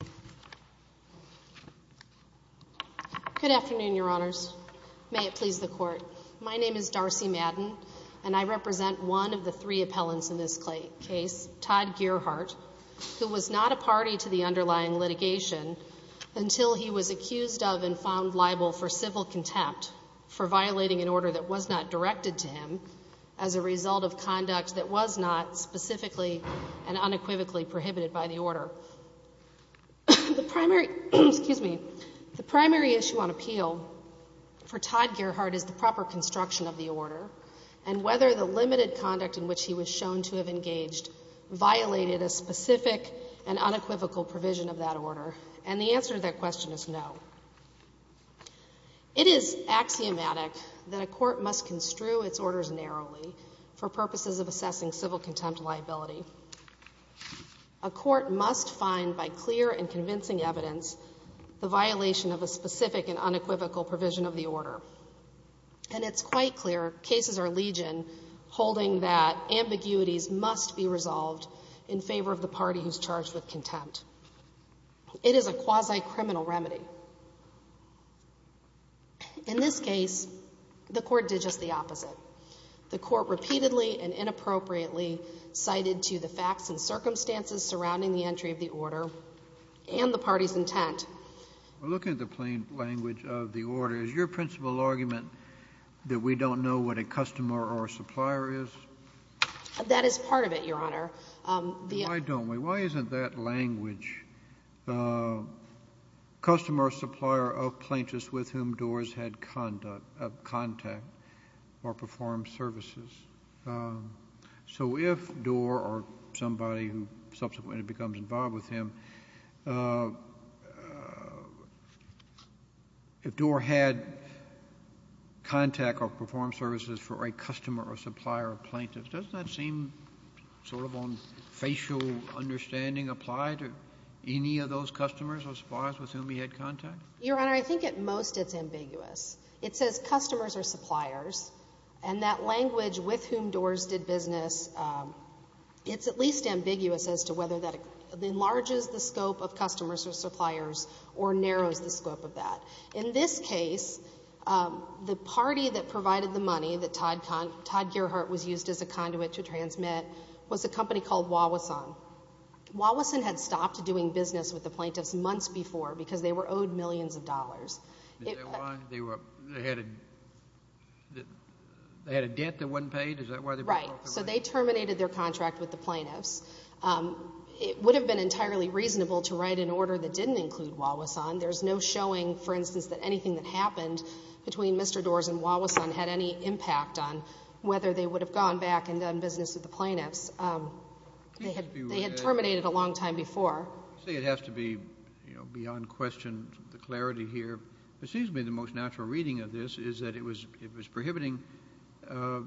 al. Good afternoon, Your Honors. May it please the Court, my name is Darcy Madden, and I represent one of the three appellants in this case, Todd Gearheart, who was not a party to the underlying litigation until he was accused of and found liable for civil contempt for violating an order that was not directed to him as a result of conduct that was not specifically and unequivocally prohibited by the order. The primary issue on appeal for Todd Gearheart is the proper construction of the order and whether the limited conduct in which he was shown to have engaged violated a specific and unequivocal provision of that order. And the answer to that question is no. It is axiomatic that a court must construe its orders narrowly for purposes of assessing civil contempt liability. A court must find by clear and convincing evidence the violation of a specific and unequivocal provision of the order. And it's quite clear cases are legion holding that ambiguities must be resolved in favor of the party who's charged with contempt. It is a quasi-criminal remedy. In this case, the Court did just the opposite. The Court repeatedly and inappropriately cited to the facts and circumstances surrounding the entry of the order and the party's intent. Well, looking at the plain language of the order, is your principal argument that we don't know what a customer or supplier is? That is part of it, Your Honor. Why don't we? Why isn't that language, customer or supplier of plaintiffs with whom Doar's had contact or performed services? So if Doar or somebody who subsequently becomes involved with him, if Doar had contact or performed services for a customer or supplier of plaintiffs, doesn't that seem sort of on facial understanding applied to any of those customers or suppliers with whom he had contact? Your Honor, I think at most it's ambiguous. It says customers or suppliers, and that language with whom Doar's did business, it's at least ambiguous as to whether that enlarges the scope of customers or suppliers or narrows the scope of that. In this case, the party that provided the money that Todd Gerhart was used as a conduit to transmit was a company called Wawason. Wawason had stopped doing business with the plaintiffs months before because they were owed millions of dollars. Is that why they had a debt that wasn't paid? Is that why they were broke away? Right. So they terminated their contract with the plaintiffs. It would have been entirely reasonable to write an order that didn't include Wawason. There's no showing, for instance, that anything that happened between Mr. Doar's and Wawason had any impact on whether they would have gone back and done business with the plaintiffs. They had terminated a long time before. It has to be beyond question, the clarity here, but it seems to me the most natural reading of this is that it was prohibiting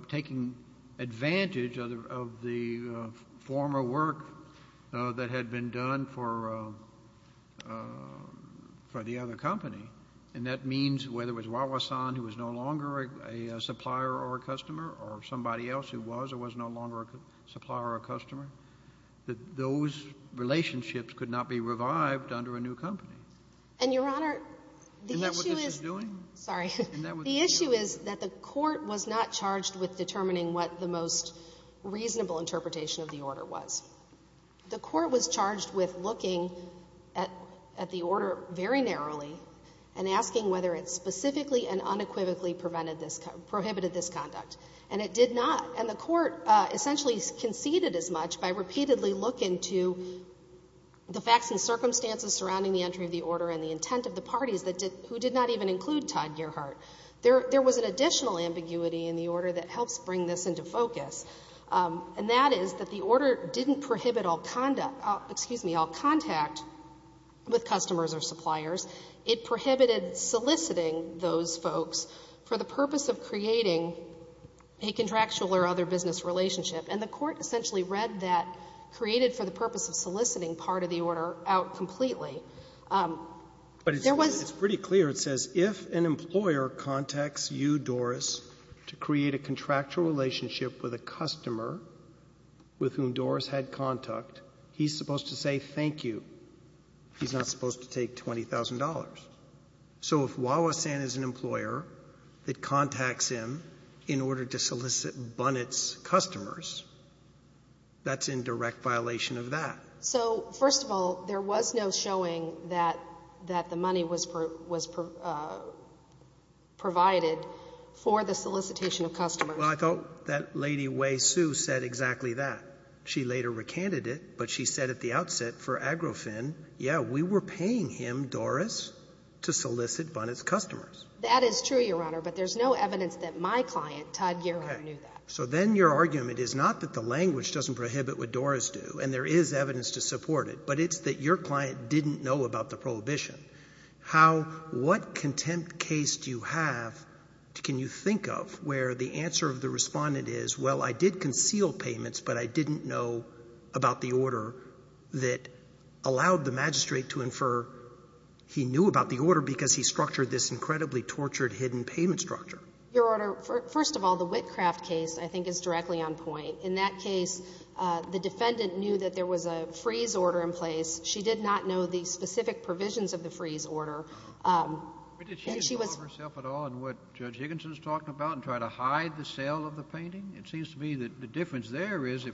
taking advantage of the former work that had been done for the other company, and that means whether it was Wawason, who was no longer a supplier or a customer, or somebody else who was or was no longer a supplier or a customer, that those relationships could not be revived under a new company. And Your Honor, the issue is... Isn't that what this is doing? Isn't that what this is doing? The issue is that the court was not charged with determining what the most reasonable interpretation of the order was. The court was charged with looking at the order very narrowly and asking whether it specifically and unequivocally prohibited this conduct, and it did not. And the court essentially conceded as much by repeatedly looking to the facts and circumstances surrounding the entry of the order and the intent of the parties who did not even include Todd Gearhart. There was an additional ambiguity in the order that helps bring this into focus, and that is that the order didn't prohibit all contact with customers or suppliers. It prohibited soliciting those folks for the purpose of creating a contractual or other business relationship, and the court essentially read that created for the purpose of soliciting part of the order out completely. But it's pretty clear, it says, if an employer contacts you, Doris, to create a contractual relationship with a customer with whom Doris had contact, he's supposed to say thank you. He's not supposed to take $20,000. So if Wawasan is an employer that contacts him in order to solicit Bunnett's customers, that's in direct violation of that. So first of all, there was no showing that the money was provided for the solicitation of customers. Well, I thought that Lady Wei Su said exactly that. She later recanted it, but she said at the outset for Agrofin, yeah, we were paying him, Doris, to solicit Bunnett's customers. That is true, Your Honor, but there's no evidence that my client, Todd Gearhart, knew that. So then your argument is not that the language doesn't prohibit what Doris do, and there is evidence to support it, but it's that your client didn't know about the prohibition. What contempt case do you have, can you think of, where the answer of the respondent is, well, I did conceal payments, but I didn't know about the order that allowed the magistrate to infer he knew about the order because he structured this incredibly tortured hidden payment structure? Your Honor, first of all, the Whitcraft case, I think, is directly on point. In that case, the defendant knew that there was a freeze order in place. She did not know the specific provisions of the freeze order. But did she inform herself at all in what Judge Higginson is talking about and try to And it seems to me that the difference there is it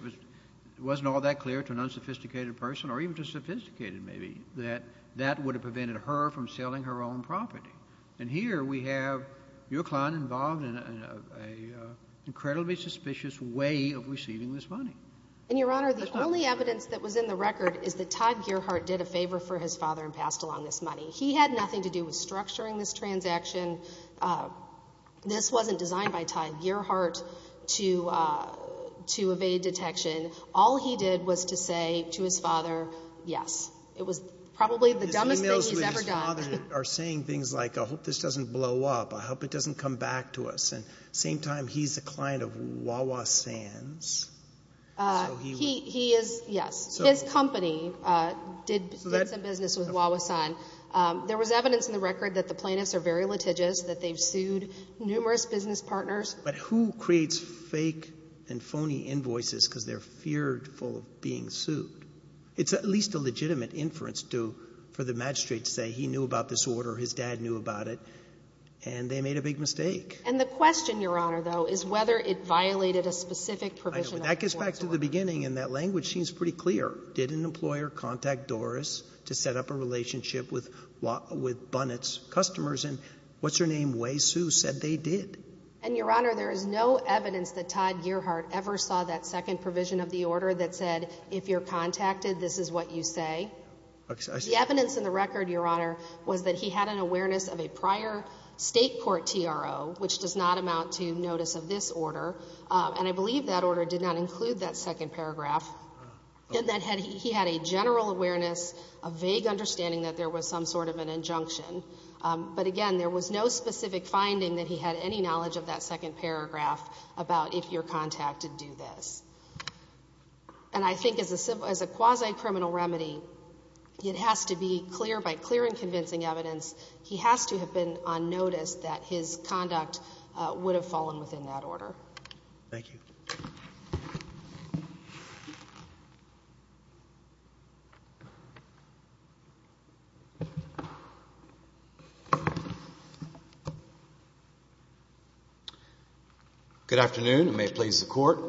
wasn't all that clear to an unsophisticated person, or even just sophisticated maybe, that that would have prevented her from selling her own property. And here we have your client involved in an incredibly suspicious way of receiving this money. And Your Honor, the only evidence that was in the record is that Todd Gearhart did a favor for his father and passed along this money. He had nothing to do with structuring this transaction. And this wasn't designed by Todd Gearhart to evade detection. All he did was to say to his father, yes. It was probably the dumbest thing he's ever done. His emails with his father are saying things like, I hope this doesn't blow up. I hope it doesn't come back to us. And at the same time, he's a client of Wawa Sands. He is, yes. His company did some business with Wawa Sands. There was evidence in the record that the plaintiffs are very litigious, that they've sued numerous business partners. But who creates fake and phony invoices because they're fearful of being sued? It's at least a legitimate inference for the magistrate to say he knew about this order, his dad knew about it, and they made a big mistake. And the question, Your Honor, though, is whether it violated a specific provision. That gets back to the beginning, and that language seems pretty clear. Did an employer contact Doris to set up a relationship with Bunnett's customers? And what's her name? Wei Su said they did. And Your Honor, there is no evidence that Todd Gearhart ever saw that second provision of the order that said, if you're contacted, this is what you say. The evidence in the record, Your Honor, was that he had an awareness of a prior state court TRO, which does not amount to notice of this order, and I believe that order did not include that second paragraph, and that he had a general awareness, a vague understanding that there was some sort of an injunction, but again, there was no specific finding that he had any knowledge of that second paragraph about if you're contacted, do this. And I think as a quasi-criminal remedy, it has to be clear, by clear and convincing evidence, he has to have been on notice that his conduct would have fallen within that order. Thank you. Good afternoon. It may please the Court.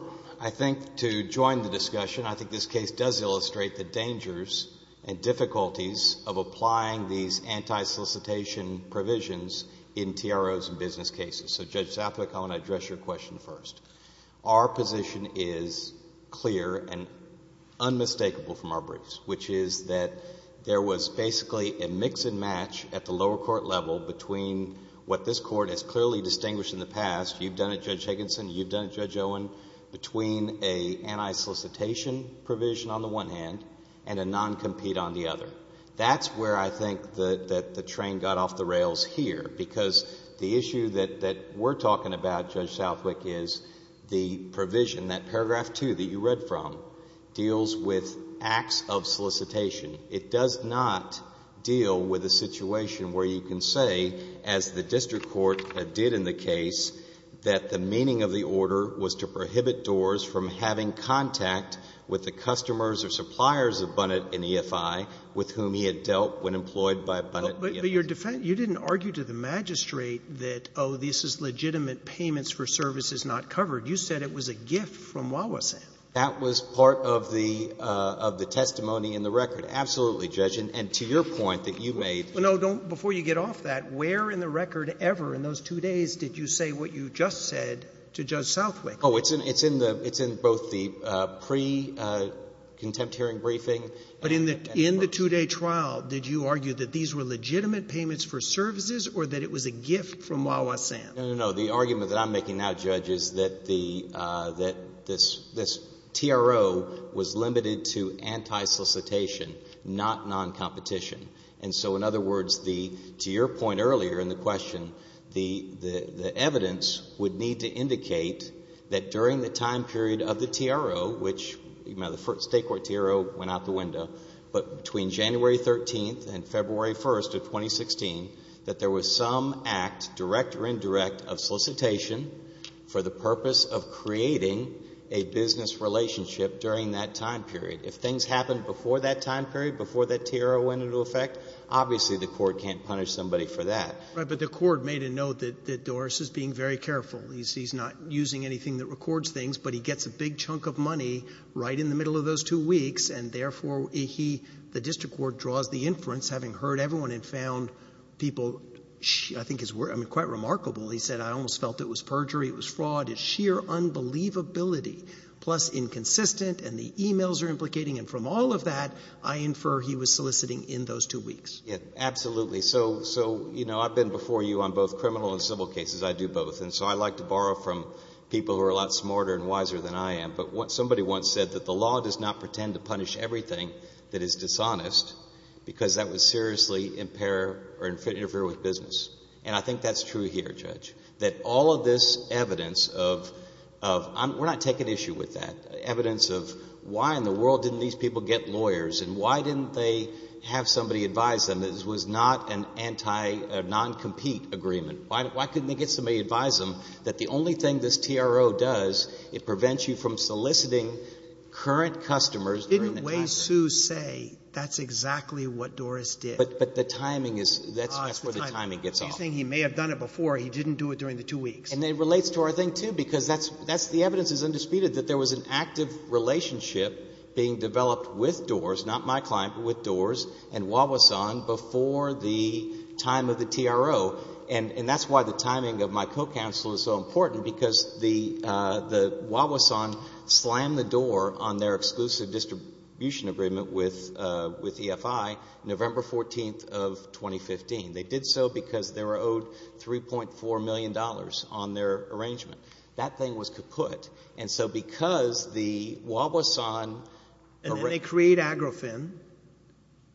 I think to join the discussion, I think this case does illustrate the dangers and difficulties of applying these anti-solicitation provisions in TROs and business cases. So, Judge Southwick, I want to address your question first. Our position is clear and unmistakable from our briefs, which is that there was basically a mix and match at the lower court level between what this Court has clearly distinguished in the past. You've done it, Judge Higginson. You've done it, Judge Owen, between an anti-solicitation provision on the one hand and a non-compete on the other. That's where I think that the train got off the rails here, because the issue that we're talking about, Judge Southwick, is the provision, that paragraph 2 that you read from, deals with acts of solicitation. It does not deal with a situation where you can say, as the district court did in the case, that the meaning of the order was to prohibit TROs from having contact with the person with whom he had dealt when employed by Bunnett. But your defense, you didn't argue to the magistrate that, oh, this is legitimate payments for services not covered. You said it was a gift from Wawasan. That was part of the testimony in the record, absolutely, Judge, and to your point that you made. No, don't. Before you get off that, where in the record ever in those two days did you say what you just said to Judge Southwick? Oh, it's in both the pre-contempt hearing briefing and the brief. During the trial, did you argue that these were legitimate payments for services or that it was a gift from Wawasan? No, no, no. The argument that I'm making now, Judge, is that this TRO was limited to anti-solicitation, not non-competition. And so, in other words, to your point earlier in the question, the evidence would need to indicate that during the time period of the TRO, which, you know, the State Court TRO went out the window, but between January 13th and February 1st of 2016, that there was some act, direct or indirect, of solicitation for the purpose of creating a business relationship during that time period. If things happened before that time period, before that TRO went into effect, obviously the court can't punish somebody for that. Right, but the court made a note that Doris is being very careful. He's not using anything that records things, but he gets a big chunk of money right in the middle of those two weeks, and therefore he, the district court, draws the inference, having heard everyone and found people, I think it's quite remarkable, he said, I almost felt it was perjury, it was fraud, it's sheer unbelievability, plus inconsistent, and the emails are implicating, and from all of that, I infer he was soliciting in those two weeks. Yeah, absolutely. So, you know, I've been before you on both criminal and civil cases. I do both. And so I like to borrow from people who are a lot smarter and wiser than I am. But somebody once said that the law does not pretend to punish everything that is dishonest because that would seriously impair or interfere with business. And I think that's true here, Judge, that all of this evidence of, we're not taking issue with that, evidence of why in the world didn't these people get lawyers and why didn't they have somebody advise them, this was not a non-compete agreement, why couldn't they get somebody to advise them that the only thing this TRO does, it prevents you from soliciting current customers during the time period. Didn't Wei Su say that's exactly what Doris did? But the timing is, that's where the timing gets off. Oh, it's the timing. You think he may have done it before, he didn't do it during the two weeks. And it relates to our thing, too, because that's, the evidence is undisputed that there was an active relationship being developed with DORS, not my client, but with DORS and And that's why the timing of my co-counsel is so important, because the Wawasan slammed the door on their exclusive distribution agreement with EFI, November 14th of 2015. They did so because they were owed $3.4 million on their arrangement. That thing was kaput. And so because the Wawasan— And then they create Agrofim.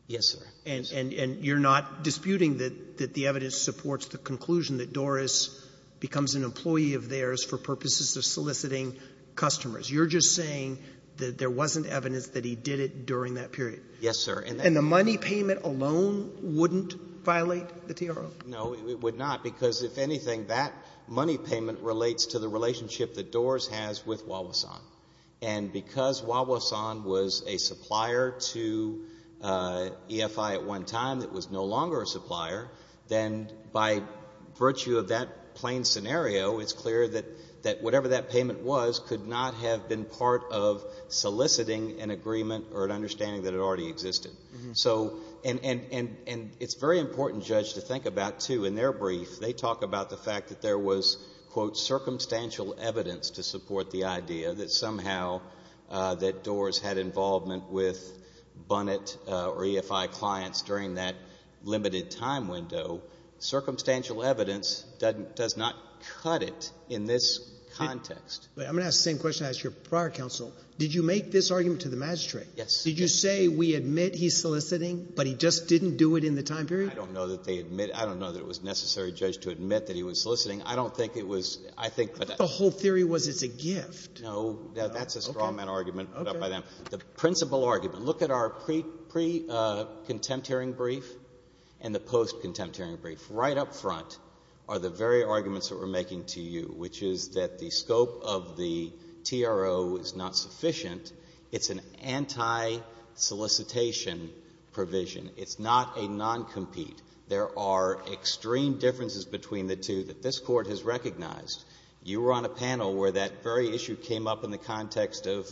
Yes, sir. And you're not disputing that the evidence supports the conclusion that Doris becomes an employee of theirs for purposes of soliciting customers. You're just saying that there wasn't evidence that he did it during that period. Yes, sir. And the money payment alone wouldn't violate the TRO? No, it would not, because if anything, that money payment relates to the relationship that DORS has with Wawasan. And because Wawasan was a supplier to EFI at one time that was no longer a supplier, then by virtue of that plain scenario, it's clear that whatever that payment was could not have been part of soliciting an agreement or an understanding that it already existed. And it's very important, Judge, to think about, too, in their brief, they talk about the fact that there was, quote, circumstantial evidence to support the idea that somehow that DORS had involvement with Bunnett or EFI clients during that limited time window. Circumstantial evidence does not cut it in this context. Wait, I'm going to ask the same question I asked your prior counsel. Did you make this argument to the magistrate? Yes. Did you say, we admit he's soliciting, but he just didn't do it in the time period? I don't know that they admit— I don't know that it was necessary, Judge, to admit that he was soliciting. I don't think it was— I think— I thought the whole theory was it's a gift. No, that's a straw man argument put up by them. The principal argument— look at our pre-contempt hearing brief and the post-contempt hearing brief. Right up front are the very arguments that we're making to you, which is that the scope of the TRO is not sufficient. It's an anti-solicitation provision. It's not a non-compete. There are extreme differences between the two that this Court has recognized. You were on a panel where that very issue came up in the context of—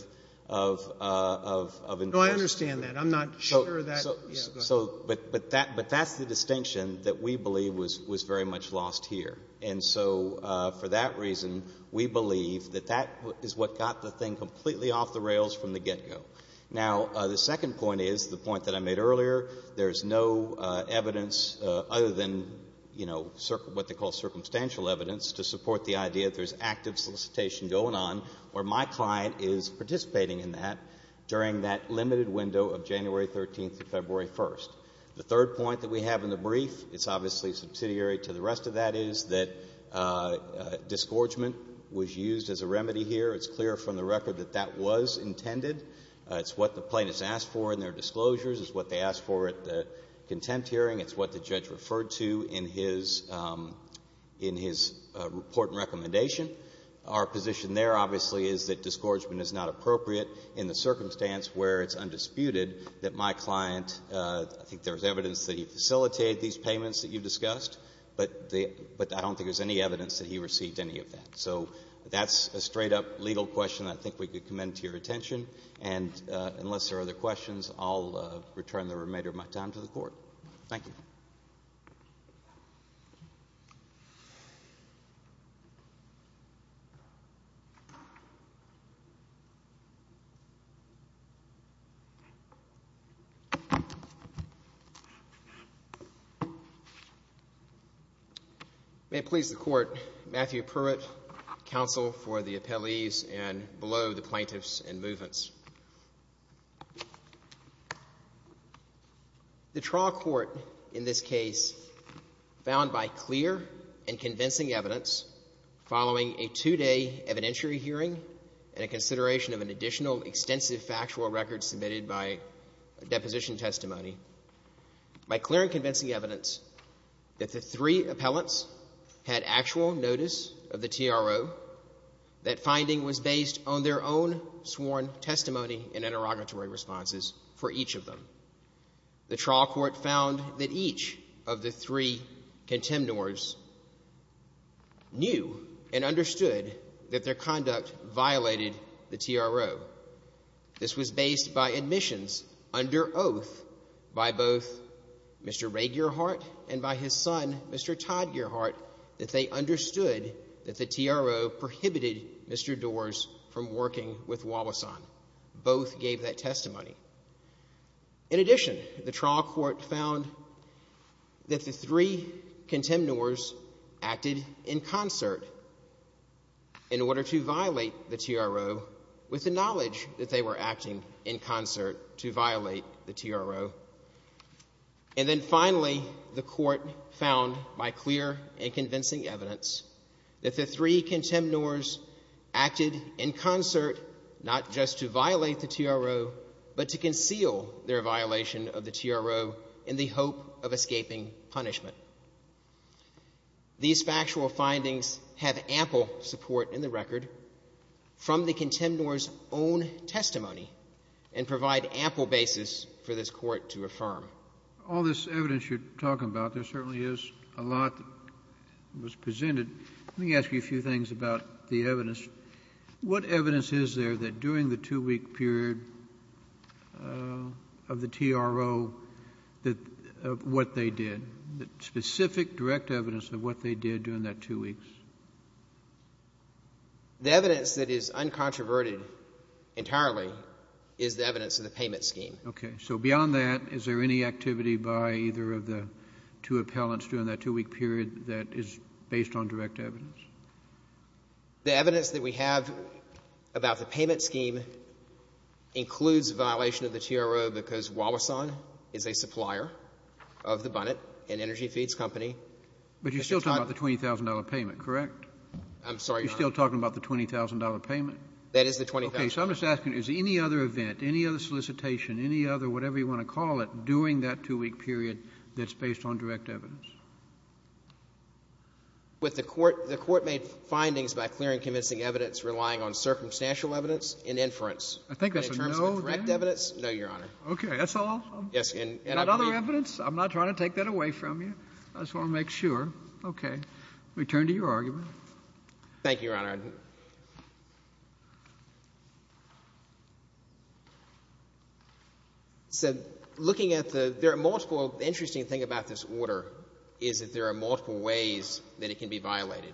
No, I understand that. I'm not sure that— So— Yeah, go ahead. But that's the distinction that we believe was very much lost here. And so for that reason, we believe that that is what got the thing completely off the rails from the get-go. Now, the second point is the point that I made earlier. There's no evidence other than, you know, what they call circumstantial evidence to support the idea that there's active solicitation going on where my client is participating in that during that limited window of January 13th to February 1st. The third point that we have in the brief, it's obviously subsidiary to the rest of that, is that disgorgement was used as a remedy here. It's clear from the record that that was intended. It's what the plaintiffs asked for in their disclosures. It's what they asked for at the contempt hearing. It's what the judge referred to in his report and recommendation. Our position there, obviously, is that disgorgement is not appropriate in the circumstance where it's undisputed that my client—I think there's evidence that he facilitated these payments that you discussed, but I don't think there's any evidence that he received any of that. So that's a straight-up legal question that I think we could commend to your attention. And unless there are other questions, I'll return the remainder of my time to the Court. Thank you. May it please the Court, Matthew Pruitt, Counsel for the Appellees and below the Plaintiffs and Movements. The trial court in this case, found by clear and convincing evidence following a two-day evidentiary hearing and a consideration of an additional extensive factual record submitted by deposition testimony, by clear and convincing evidence that the three appellants had actual notice of the TRO, that finding was based on their own sworn testimony and interrogatory responses for each of them. The trial court found that each of the three contemnors knew and understood that their conduct violated the TRO. This was based by admissions under oath by both Mr. Ray Gearhart and by his son, Mr. Todd Gearhart, that they understood that the TRO prohibited Mr. Doars from working with Wallace on. Both gave that testimony. In addition, the trial court found that the three contemnors acted in concert in order to violate the TRO with the knowledge that they were acting in concert to violate the TRO. And then finally, the court found by clear and convincing evidence that the three contemnors acted in concert not just to violate the TRO, but to conceal their violation of the TRO in the hope of escaping punishment. These factual findings have ample support in the record from the contemnors' own testimony and provide ample basis for this court to affirm. All this evidence you're talking about, there certainly is a lot that was presented. Let me ask you a few things about the evidence. What evidence is there that during the two-week period of the TRO, of what they did, specific direct evidence of what they did during that two weeks? The evidence that is uncontroverted entirely is the evidence of the payment scheme. Okay. So beyond that, is there any activity by either of the two appellants during that two-week period that is based on direct evidence? The evidence that we have about the payment scheme includes violation of the TRO because Wallace is a supplier of the Bunnett, an energy feeds company. But you're still talking about the $20,000 payment, correct? I'm sorry, Your Honor. You're still talking about the $20,000 payment? That is the $20,000. Okay. So I'm just asking, is any other event, any other solicitation, any other whatever you want to call it, during that two-week period that's based on direct evidence? The court made findings by clearing convincing evidence relying on circumstantial evidence in inference. I think that's a no there. In terms of direct evidence, no, Your Honor. Okay. That's all? Yes. And other evidence? I'm not trying to take that away from you. I just want to make sure. Okay. We turn to your argument. Thank you, Your Honor. So looking at the—there are multiple—the interesting thing about this order is that there are multiple ways that it can be violated.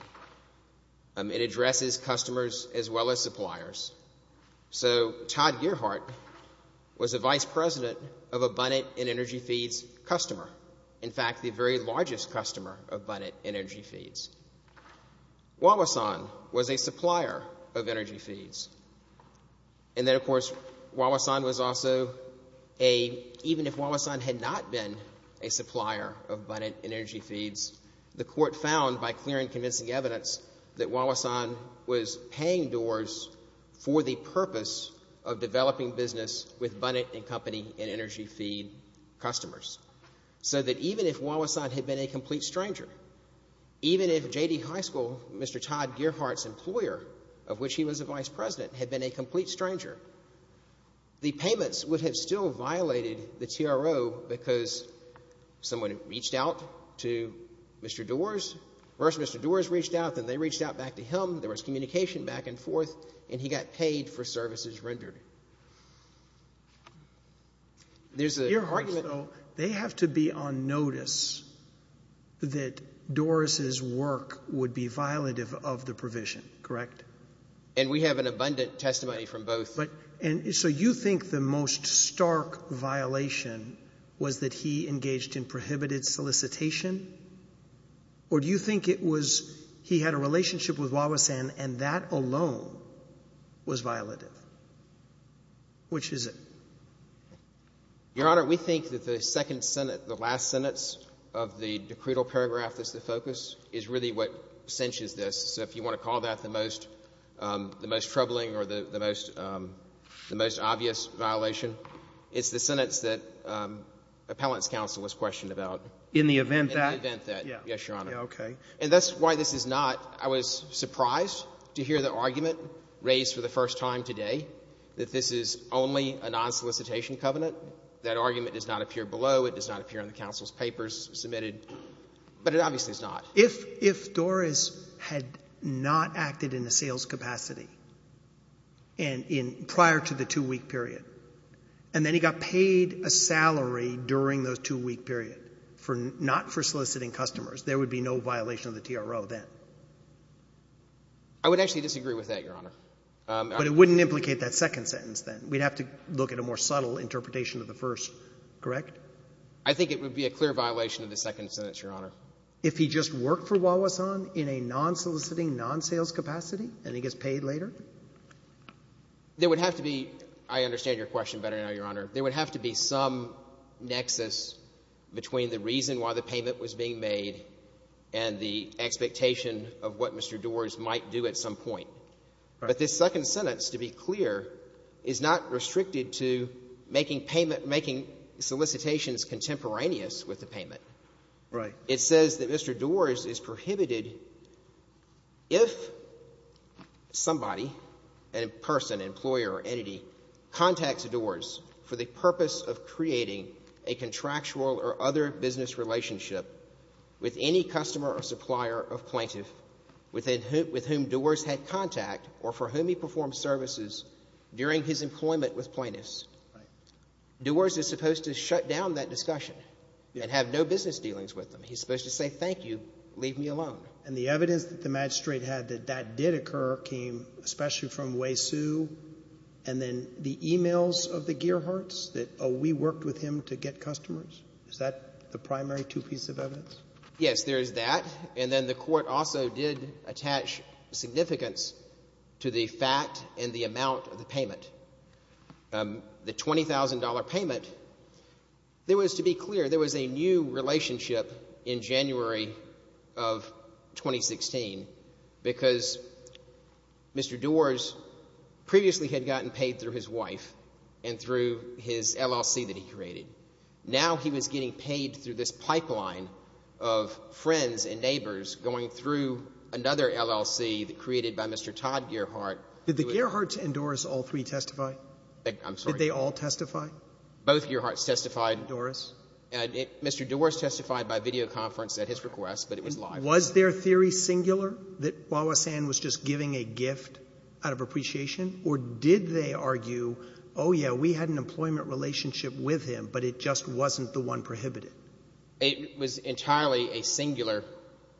It addresses customers as well as suppliers. So Todd Gearhart was a vice president of a Bunnett and energy feeds customer, in fact, the very largest customer of Bunnett and energy feeds. Wauwesan was a supplier of energy feeds. And then, of course, Wauwesan was also a—even if Wauwesan had not been a supplier of Bunnett and energy feeds, the court found by clearing convincing evidence that Wauwesan was paying doors for the purpose of developing business with Bunnett and company and energy feed customers. So that even if Wauwesan had been a complete stranger, even if J.D. High School, Mr. Todd Gearhart's employer, of which he was the vice president, had been a complete stranger, the payments would have still violated the TRO because someone reached out to Mr. Doars. First, Mr. Doars reached out, then they reached out back to him, there was communication back and forth, and he got paid for services rendered. There's a— Gearhart, though, they have to be on notice that Doars' work would be violative of the provision, correct? And we have an abundant testimony from both. And so you think the most stark violation was that he engaged in prohibited solicitation? Or do you think it was he had a relationship with Wauwesan and that alone was violative? Which is it? Your Honor, we think that the second sentence, the last sentence of the decretal paragraph that's the focus, is really what cinches this. So if you want to call that the most troubling or the most obvious violation, it's the sentence that appellant's counsel was questioned about. In the event that? In the event that. Yes, Your Honor. Okay. And that's why this is not—I was surprised to hear the argument raised for the first time today that this is only a non-solicitation covenant. That argument does not appear below, it does not appear on the counsel's papers submitted, but it obviously is not. If Doars had not acted in a sales capacity and in—prior to the two-week period, and then he got paid a salary during the two-week period, not for soliciting customers, there would be no violation of the TRO then? I would actually disagree with that, Your Honor. But it wouldn't implicate that second sentence then? We'd have to look at a more subtle interpretation of the first, correct? I think it would be a clear violation of the second sentence, Your Honor. If he just worked for Wauwesan in a non-soliciting, non-sales capacity and he gets paid later? There would have to be—I understand your question better now, Your Honor—there would have to be some nexus between the reason why the payment was being made and the expectation of what Mr. Doars might do at some point. Right. But this second sentence, to be clear, is not restricted to making payment—making solicitations contemporaneous with the payment. Right. It says that Mr. Doars is prohibited if somebody, a person, employer, entity, contacts Doars for the purpose of creating a contractual or other business relationship with any customer or supplier of plaintiff with whom Doars had contact or for whom he performed services during his employment with plaintiffs. Doars is supposed to shut down that discussion and have no business dealings with them. He's supposed to say, thank you, leave me alone. And the evidence that the magistrate had that that did occur came especially from Waysu and then the emails of the Gearhertz that, oh, we worked with him to get customers? Is that the primary two-piece of evidence? Yes, there is that. And then the court also did attach significance to the fact and the amount of the payment. The $20,000 payment, there was, to be clear, there was a new relationship in January of 2016 because Mr. Doars previously had gotten paid through his wife and through his LLC that he created. Now he was getting paid through this pipeline of friends and neighbors going through another LLC that created by Mr. Todd Gearhart. Did the Gearhart and Doars all three testify? I'm sorry. Did they all testify? Both Gearharts testified. Doars? Mr. Doars testified by video conference at his request, but it was live. Was their theory singular that Wawasan was just giving a gift out of appreciation? Or did they argue, oh, yeah, we had an employment relationship with him, but it just wasn't the one prohibited? It was entirely a singular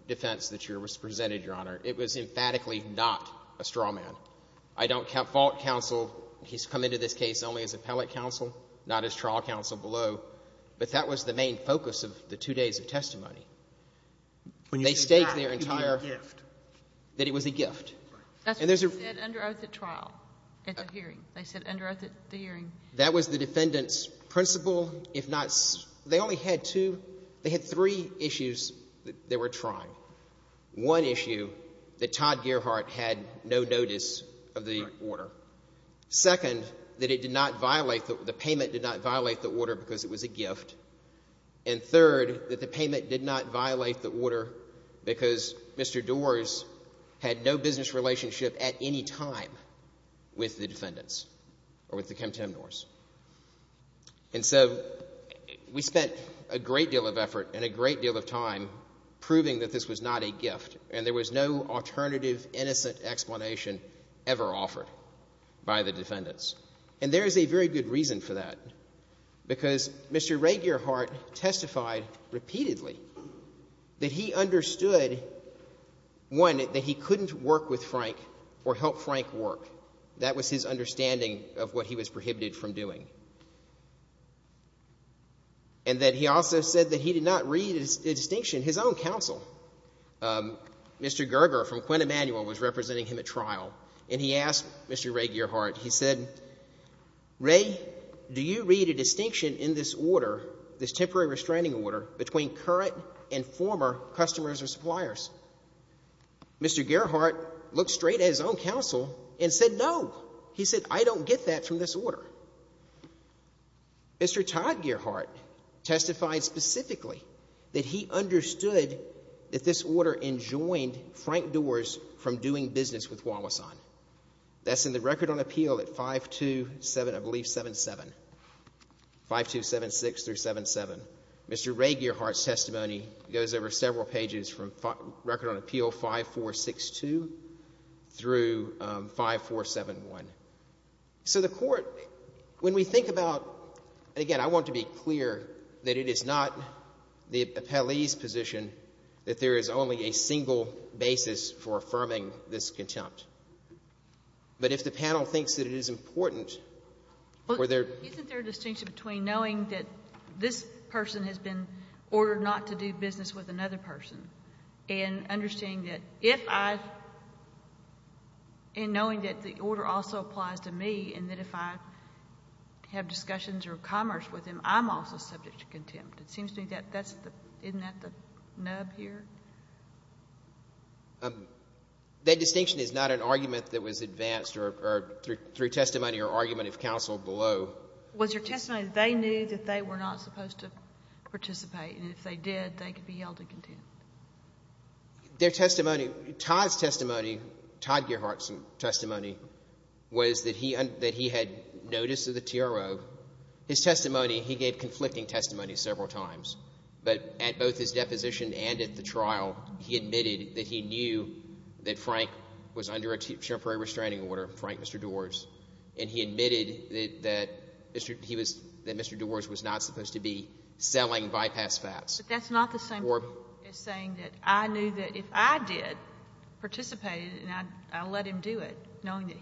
defense that was presented, Your Honor. It was emphatically not a straw man. I don't fault counsel. He's come into this case only as appellate counsel, not as trial counsel below. But that was the main focus of the two days of testimony. When you say that, it could be a gift. That it was a gift. Right. And there's a... That's what they said under oath at trial. At the hearing. They said under oath at the hearing. That was the defendant's principle, if not... They only had two, they had three issues that they were trying. One issue, that Todd Gearhart had no notice of the order. Second, that it did not violate, the payment did not violate the order because it was a gift. And third, that the payment did not violate the order because Mr. Doars had no business relationship at any time with the defendants or with the Kemptemnors. And so, we spent a great deal of effort and a great deal of time proving that this was not a gift. And there was no alternative, innocent explanation ever offered by the defendants. And there is a very good reason for that. Because Mr. Ray Gearhart testified repeatedly that he understood, one, that he couldn't work with Frank or help Frank work. That was his understanding of what he was prohibited from doing. And that he also said that he did not read a distinction, his own counsel. Mr. Gerger from Quint Emanuel was representing him at trial and he asked Mr. Ray Gearhart, he said, Ray, do you read a distinction in this order, this temporary restraining order, between current and former customers or suppliers? Mr. Gearhart looked straight at his own counsel and said, no. He said, I don't get that from this order. Mr. Todd Gearhart testified specifically that he understood that this order enjoined Frank Doars from doing business with Wawasan. That's in the Record on Appeal at 527, I believe, 7-7, 5276 through 7-7. Mr. Ray Gearhart's testimony goes over several pages from Record on Appeal 5462 through 5471. So the Court, when we think about, again, I want to be clear that it is not the appellee's position that there is only a single basis for affirming this contempt. But if the panel thinks that it is important for their- If a person has been ordered not to do business with another person and understanding that if I- and knowing that the order also applies to me and that if I have discussions or commerce with him, I'm also subject to contempt, it seems to me that that's the- isn't that the nub here? That distinction is not an argument that was advanced or through testimony or argument of counsel below. Was your testimony that they knew that they were not supposed to participate and if they did, they could be held in contempt? Their testimony- Todd's testimony, Todd Gearhart's testimony was that he had notice of the TRO. His testimony, he gave conflicting testimony several times. But at both his deposition and at the trial, he admitted that he knew that Frank was under Mr. Dewar's- that Mr. Dewar's was not supposed to be selling bypass fats. But that's not the same as saying that I knew that if I did participate and I let him do it, knowing that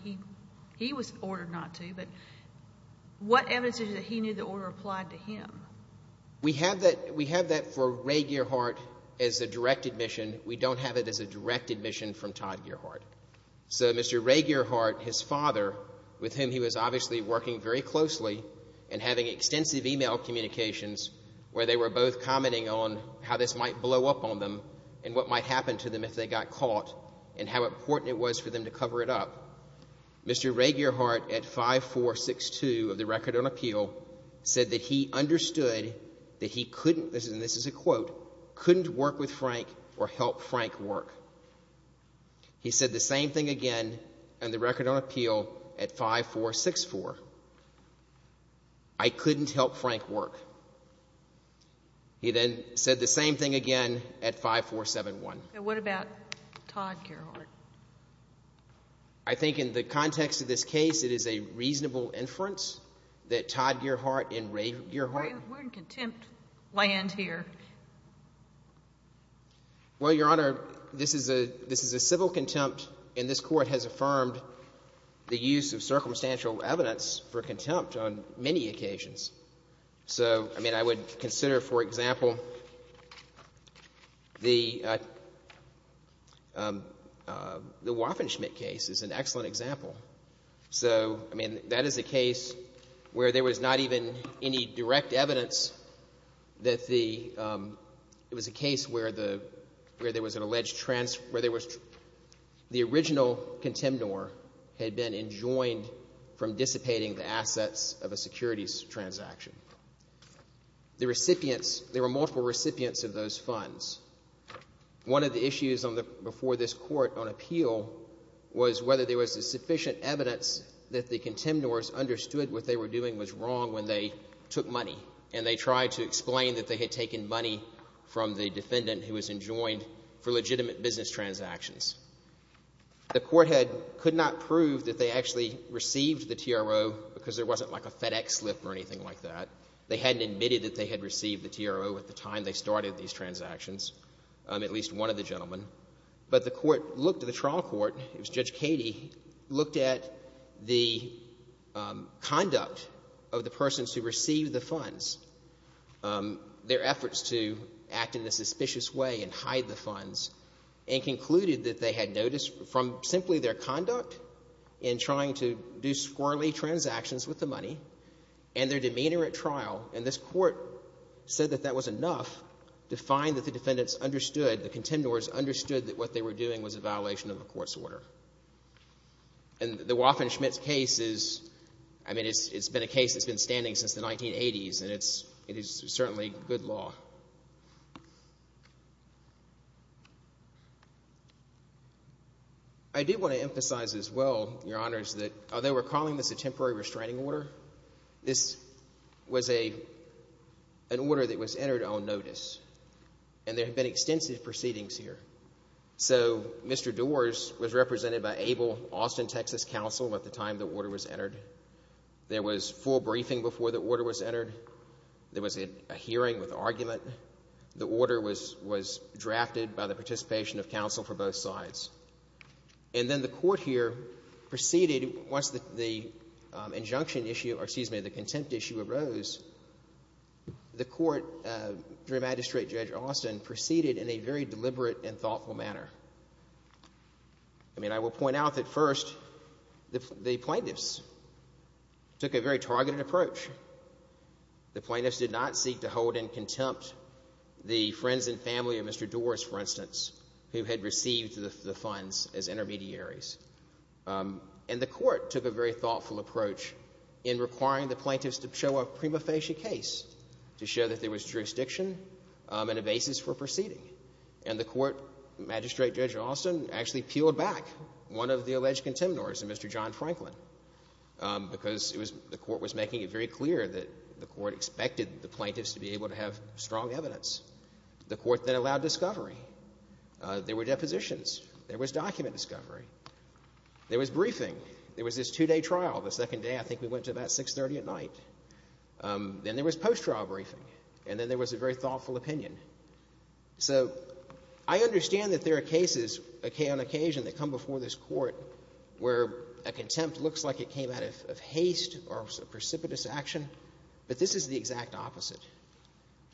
he was ordered not to, but what evidence is it that he knew the order applied to him? We have that for Ray Gearhart as a direct admission. We don't have it as a direct admission from Todd Gearhart. So Mr. Ray Gearhart, his father, with whom he was obviously working very closely and having extensive email communications where they were both commenting on how this might blow up on them and what might happen to them if they got caught and how important it was for them to cover it up. Mr. Ray Gearhart at 5462 of the Record on Appeal said that he understood that he couldn't- and this is a quote- couldn't work with Frank or help Frank work. He said the same thing again in the Record on Appeal at 5464. I couldn't help Frank work. He then said the same thing again at 5471. And what about Todd Gearhart? I think in the context of this case, it is a reasonable inference that Todd Gearhart and Ray Gearhart- We're in contempt land here. Well, Your Honor, this is a civil contempt and this Court has affirmed the use of circumstantial evidence for contempt on many occasions. So I mean, I would consider, for example, the Waffenschmitt case is an excellent example. So I mean, that is a case where there was not even any direct evidence that the- it was a case where the- where there was an alleged trans- where there was- the original contempnor had been enjoined from dissipating the assets of a securities transaction. The recipients- there were multiple recipients of those funds. One of the issues on the- before this Court on Appeal was whether there was sufficient evidence that the contempnors understood what they were doing was wrong when they took money and they tried to explain that they had taken money from the defendant who was enjoined for legitimate business transactions. The court had- could not prove that they actually received the TRO because there wasn't like a FedEx slip or anything like that. They hadn't admitted that they had received the TRO at the time they started these transactions. At least one of the gentlemen. But the court looked- the trial court, it was Judge Cady, looked at the conduct of the persons who received the funds, their efforts to act in a suspicious way and hide the funds, and concluded that they had noticed from simply their conduct in trying to do squirrelly transactions with the money and their demeanor at trial, and this court said that that was enough to find that the defendants understood, the contempnors understood that what they were doing was a violation of a court's order. And the Waffen-Schmidt case is- I mean it's been a case that's been standing since the 1980s and it's certainly good law. I do want to emphasize as well, Your Honors, that although we're calling this a temporary case, and there have been extensive proceedings here, so Mr. Doar's was represented by Able Austin Texas Council at the time the order was entered. There was full briefing before the order was entered. There was a hearing with argument. The order was drafted by the participation of counsel for both sides. And then the court here proceeded once the injunction issue, or excuse me, the contempt issue arose, the court, through Magistrate Judge Austin, proceeded in a very deliberate and thoughtful manner. I mean, I will point out that first, the plaintiffs took a very targeted approach. The plaintiffs did not seek to hold in contempt the friends and family of Mr. Doar's, for instance, who had received the funds as intermediaries. And the court took a very thoughtful approach in requiring the plaintiffs to show a prima facie case to show that there was jurisdiction and a basis for proceeding. And the court, Magistrate Judge Austin, actually peeled back one of the alleged contemporaries, Mr. John Franklin, because the court was making it very clear that the court expected the plaintiffs to be able to have strong evidence. The court then allowed discovery. There were depositions. There was document discovery. There was briefing. There was this two-day trial. The second day, I think we went to about 630 at night. Then there was post-trial briefing. And then there was a very thoughtful opinion. So I understand that there are cases on occasion that come before this court where a contempt looks like it came out of haste or of precipitous action. But this is the exact opposite.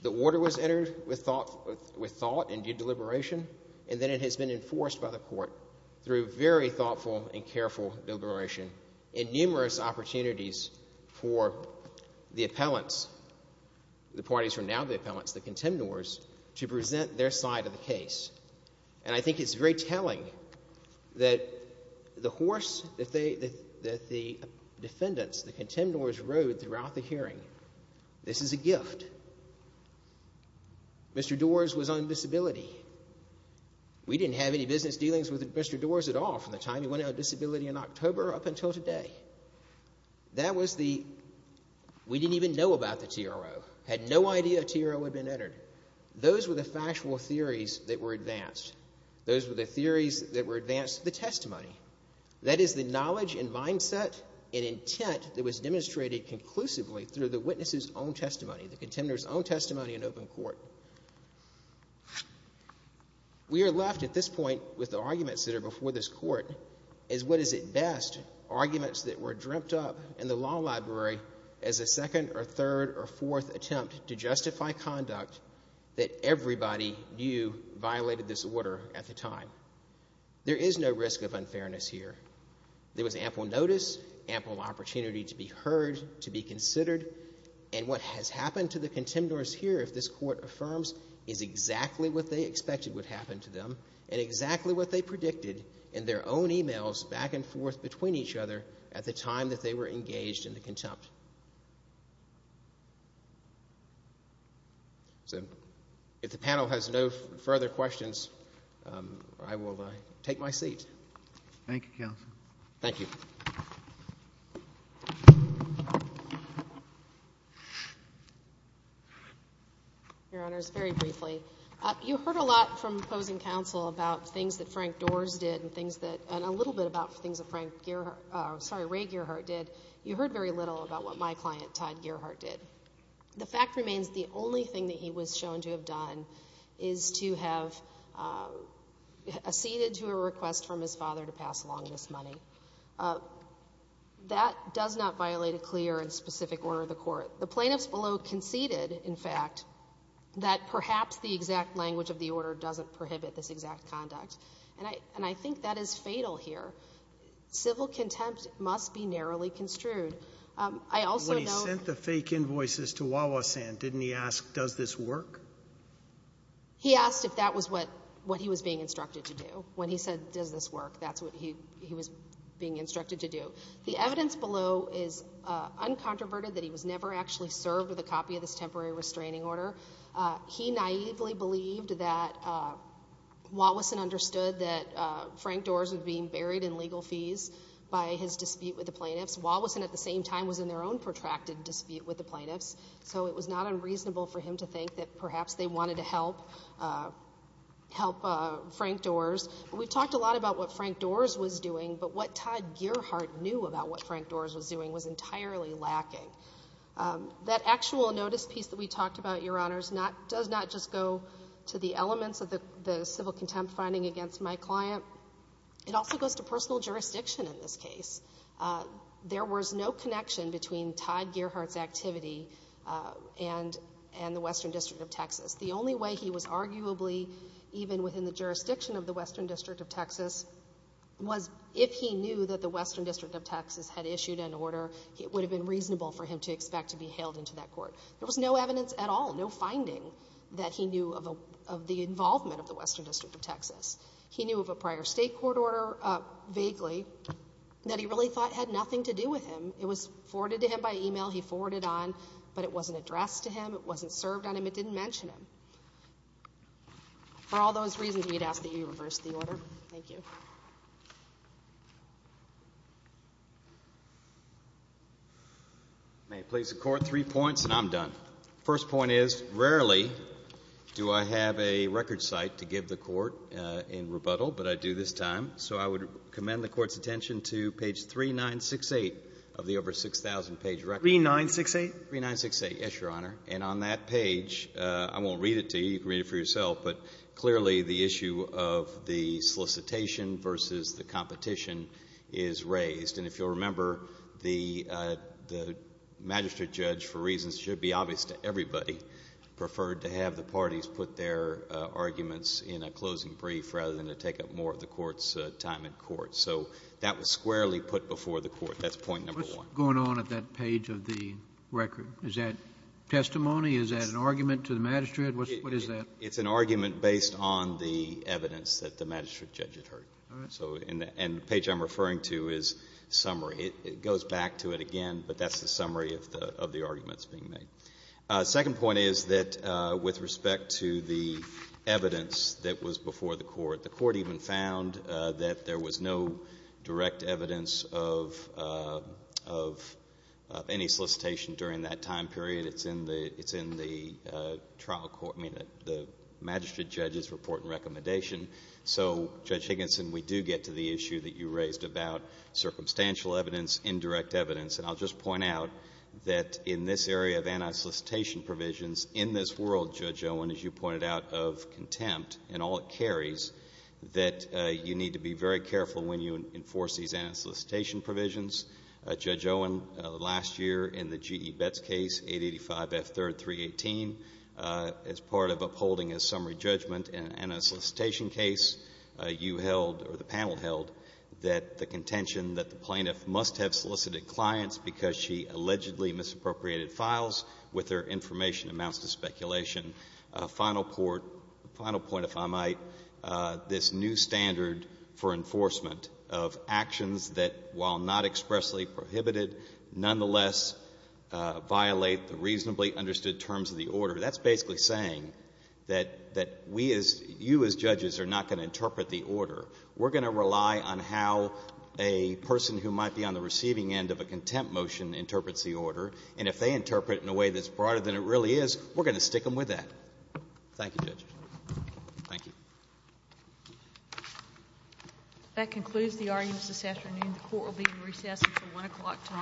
The order was entered with thought and due deliberation. And then it has been enforced by the court through very thoughtful and careful deliberation and numerous opportunities for the appellants, the parties who are now the appellants, the contemporaries, to present their side of the case. And I think it's very telling that the horse that the defendants, the contemporaries, rode throughout the hearing, this is a gift. And Mr. Doar's was on disability. We didn't have any business dealings with Mr. Doar's at all from the time he went on disability in October up until today. That was the, we didn't even know about the TRO, had no idea a TRO had been entered. Those were the factual theories that were advanced. Those were the theories that were advanced, the testimony. That is the knowledge and mindset and intent that was demonstrated conclusively through the witness's own testimony, the contemnator's own testimony in open court. We are left at this point with the arguments that are before this court as what is at best arguments that were dreamt up in the law library as a second or third or fourth attempt to justify conduct that everybody knew violated this order at the time. There is no risk of unfairness here. There was ample notice, ample opportunity to be heard, to be considered, and what has happened to the contemporaries here, if this court affirms, is exactly what they expected would happen to them and exactly what they predicted in their own emails back and forth between each other at the time that they were engaged in the contempt. So, if the panel has no further questions, I will take my seat. Thank you, Counsel. Thank you. Your Honors, very briefly. You heard a lot from opposing counsel about things that Frank Doars did and a little bit about things that Ray Gearhart did. You heard very little about what my client, Todd Gearhart, did. The fact remains the only thing that he was shown to have done is to have acceded to a request from his father to pass along this money. That does not violate a clear and specific order of the court. The plaintiffs below conceded, in fact, that perhaps the exact language of the order doesn't prohibit this exact conduct, and I think that is fatal here. Civil contempt must be narrowly construed. I also know— When he sent the fake invoices to Wawasan, didn't he ask, does this work? He asked if that was what he was being instructed to do. When he said, does this work, that's what he was being instructed to do. The evidence below is uncontroverted that he was never actually served with a copy of this temporary restraining order. He naively believed that Wawasan understood that Frank Doars was being buried in legal fees by his dispute with the plaintiffs. Wawasan, at the same time, was in their own protracted dispute with the plaintiffs, so it was not unreasonable for him to think that perhaps they wanted to help Frank Doars. We talked a lot about what Frank Doars was doing, but what Todd Gearhart knew about what Frank Doars was doing was entirely lacking. That actual notice piece that we talked about, Your Honors, does not just go to the elements of the civil contempt finding against my client. It also goes to personal jurisdiction in this case. There was no connection between Todd Gearhart's activity and the Western District of Texas. The only way he was arguably, even within the jurisdiction of the Western District of Texas, was if he knew that the Western District of Texas had issued an order, it would have been reasonable for him to expect to be hailed into that court. There was no evidence at all, no finding, that he knew of the involvement of the Western District of Texas. He knew of a prior state court order, vaguely, that he really thought had nothing to do with him. It was forwarded to him by email, he forwarded on, but it wasn't addressed to him, it wasn't served on him, it didn't mention him. For all those reasons, we'd ask that you reverse the order. Thank you. May I please the Court, three points and I'm done. First point is, rarely do I have a record site to give the Court in rebuttal, but I do this time. So I would commend the Court's attention to page 3968 of the over 6,000 page record. 3968? 3968, yes, Your Honor. And on that page, I won't read it to you, you can read it for yourself, but clearly the issue of the solicitation versus the competition is raised. And if you'll remember, the Magistrate Judge, for reasons that should be obvious to everybody, preferred to have the parties put their arguments in a closing brief rather than to take up more of the Court's time in court. So that was squarely put before the Court. That's point number one. What's going on at that page of the record? Is that testimony, is that an argument to the Magistrate, what is that? It's an argument based on the evidence that the Magistrate Judge had heard. And the page I'm referring to is summary. It goes back to it again, but that's the summary of the arguments being made. Second point is that with respect to the evidence that was before the Court, the Court even found that there was no direct evidence of any solicitation during that time period. It's in the Magistrate Judge's report and recommendation. So Judge Higginson, we do get to the issue that you raised about circumstantial evidence, indirect evidence. And I'll just point out that in this area of anti-solicitation provisions, in this world, Judge Owen, as you pointed out, of contempt and all it carries, that you need to be very careful when you enforce these anti-solicitation provisions. Judge Owen, last year in the G.E. Case, you held, or the panel held, that the contention that the plaintiff must have solicited clients because she allegedly misappropriated files with their information amounts to speculation. Final point, if I might, this new standard for enforcement of actions that, while not expressly prohibited, nonetheless violate the reasonably understood terms of the order. That's basically saying that you as judges are not going to interpret the order. We're going to rely on how a person who might be on the receiving end of a contempt motion interprets the order. And if they interpret it in a way that's broader than it really is, we're going to stick them with that. Thank you, Judge. Thank you. That concludes the arguments this afternoon. The Court will be in recess until 1 o'clock tonight.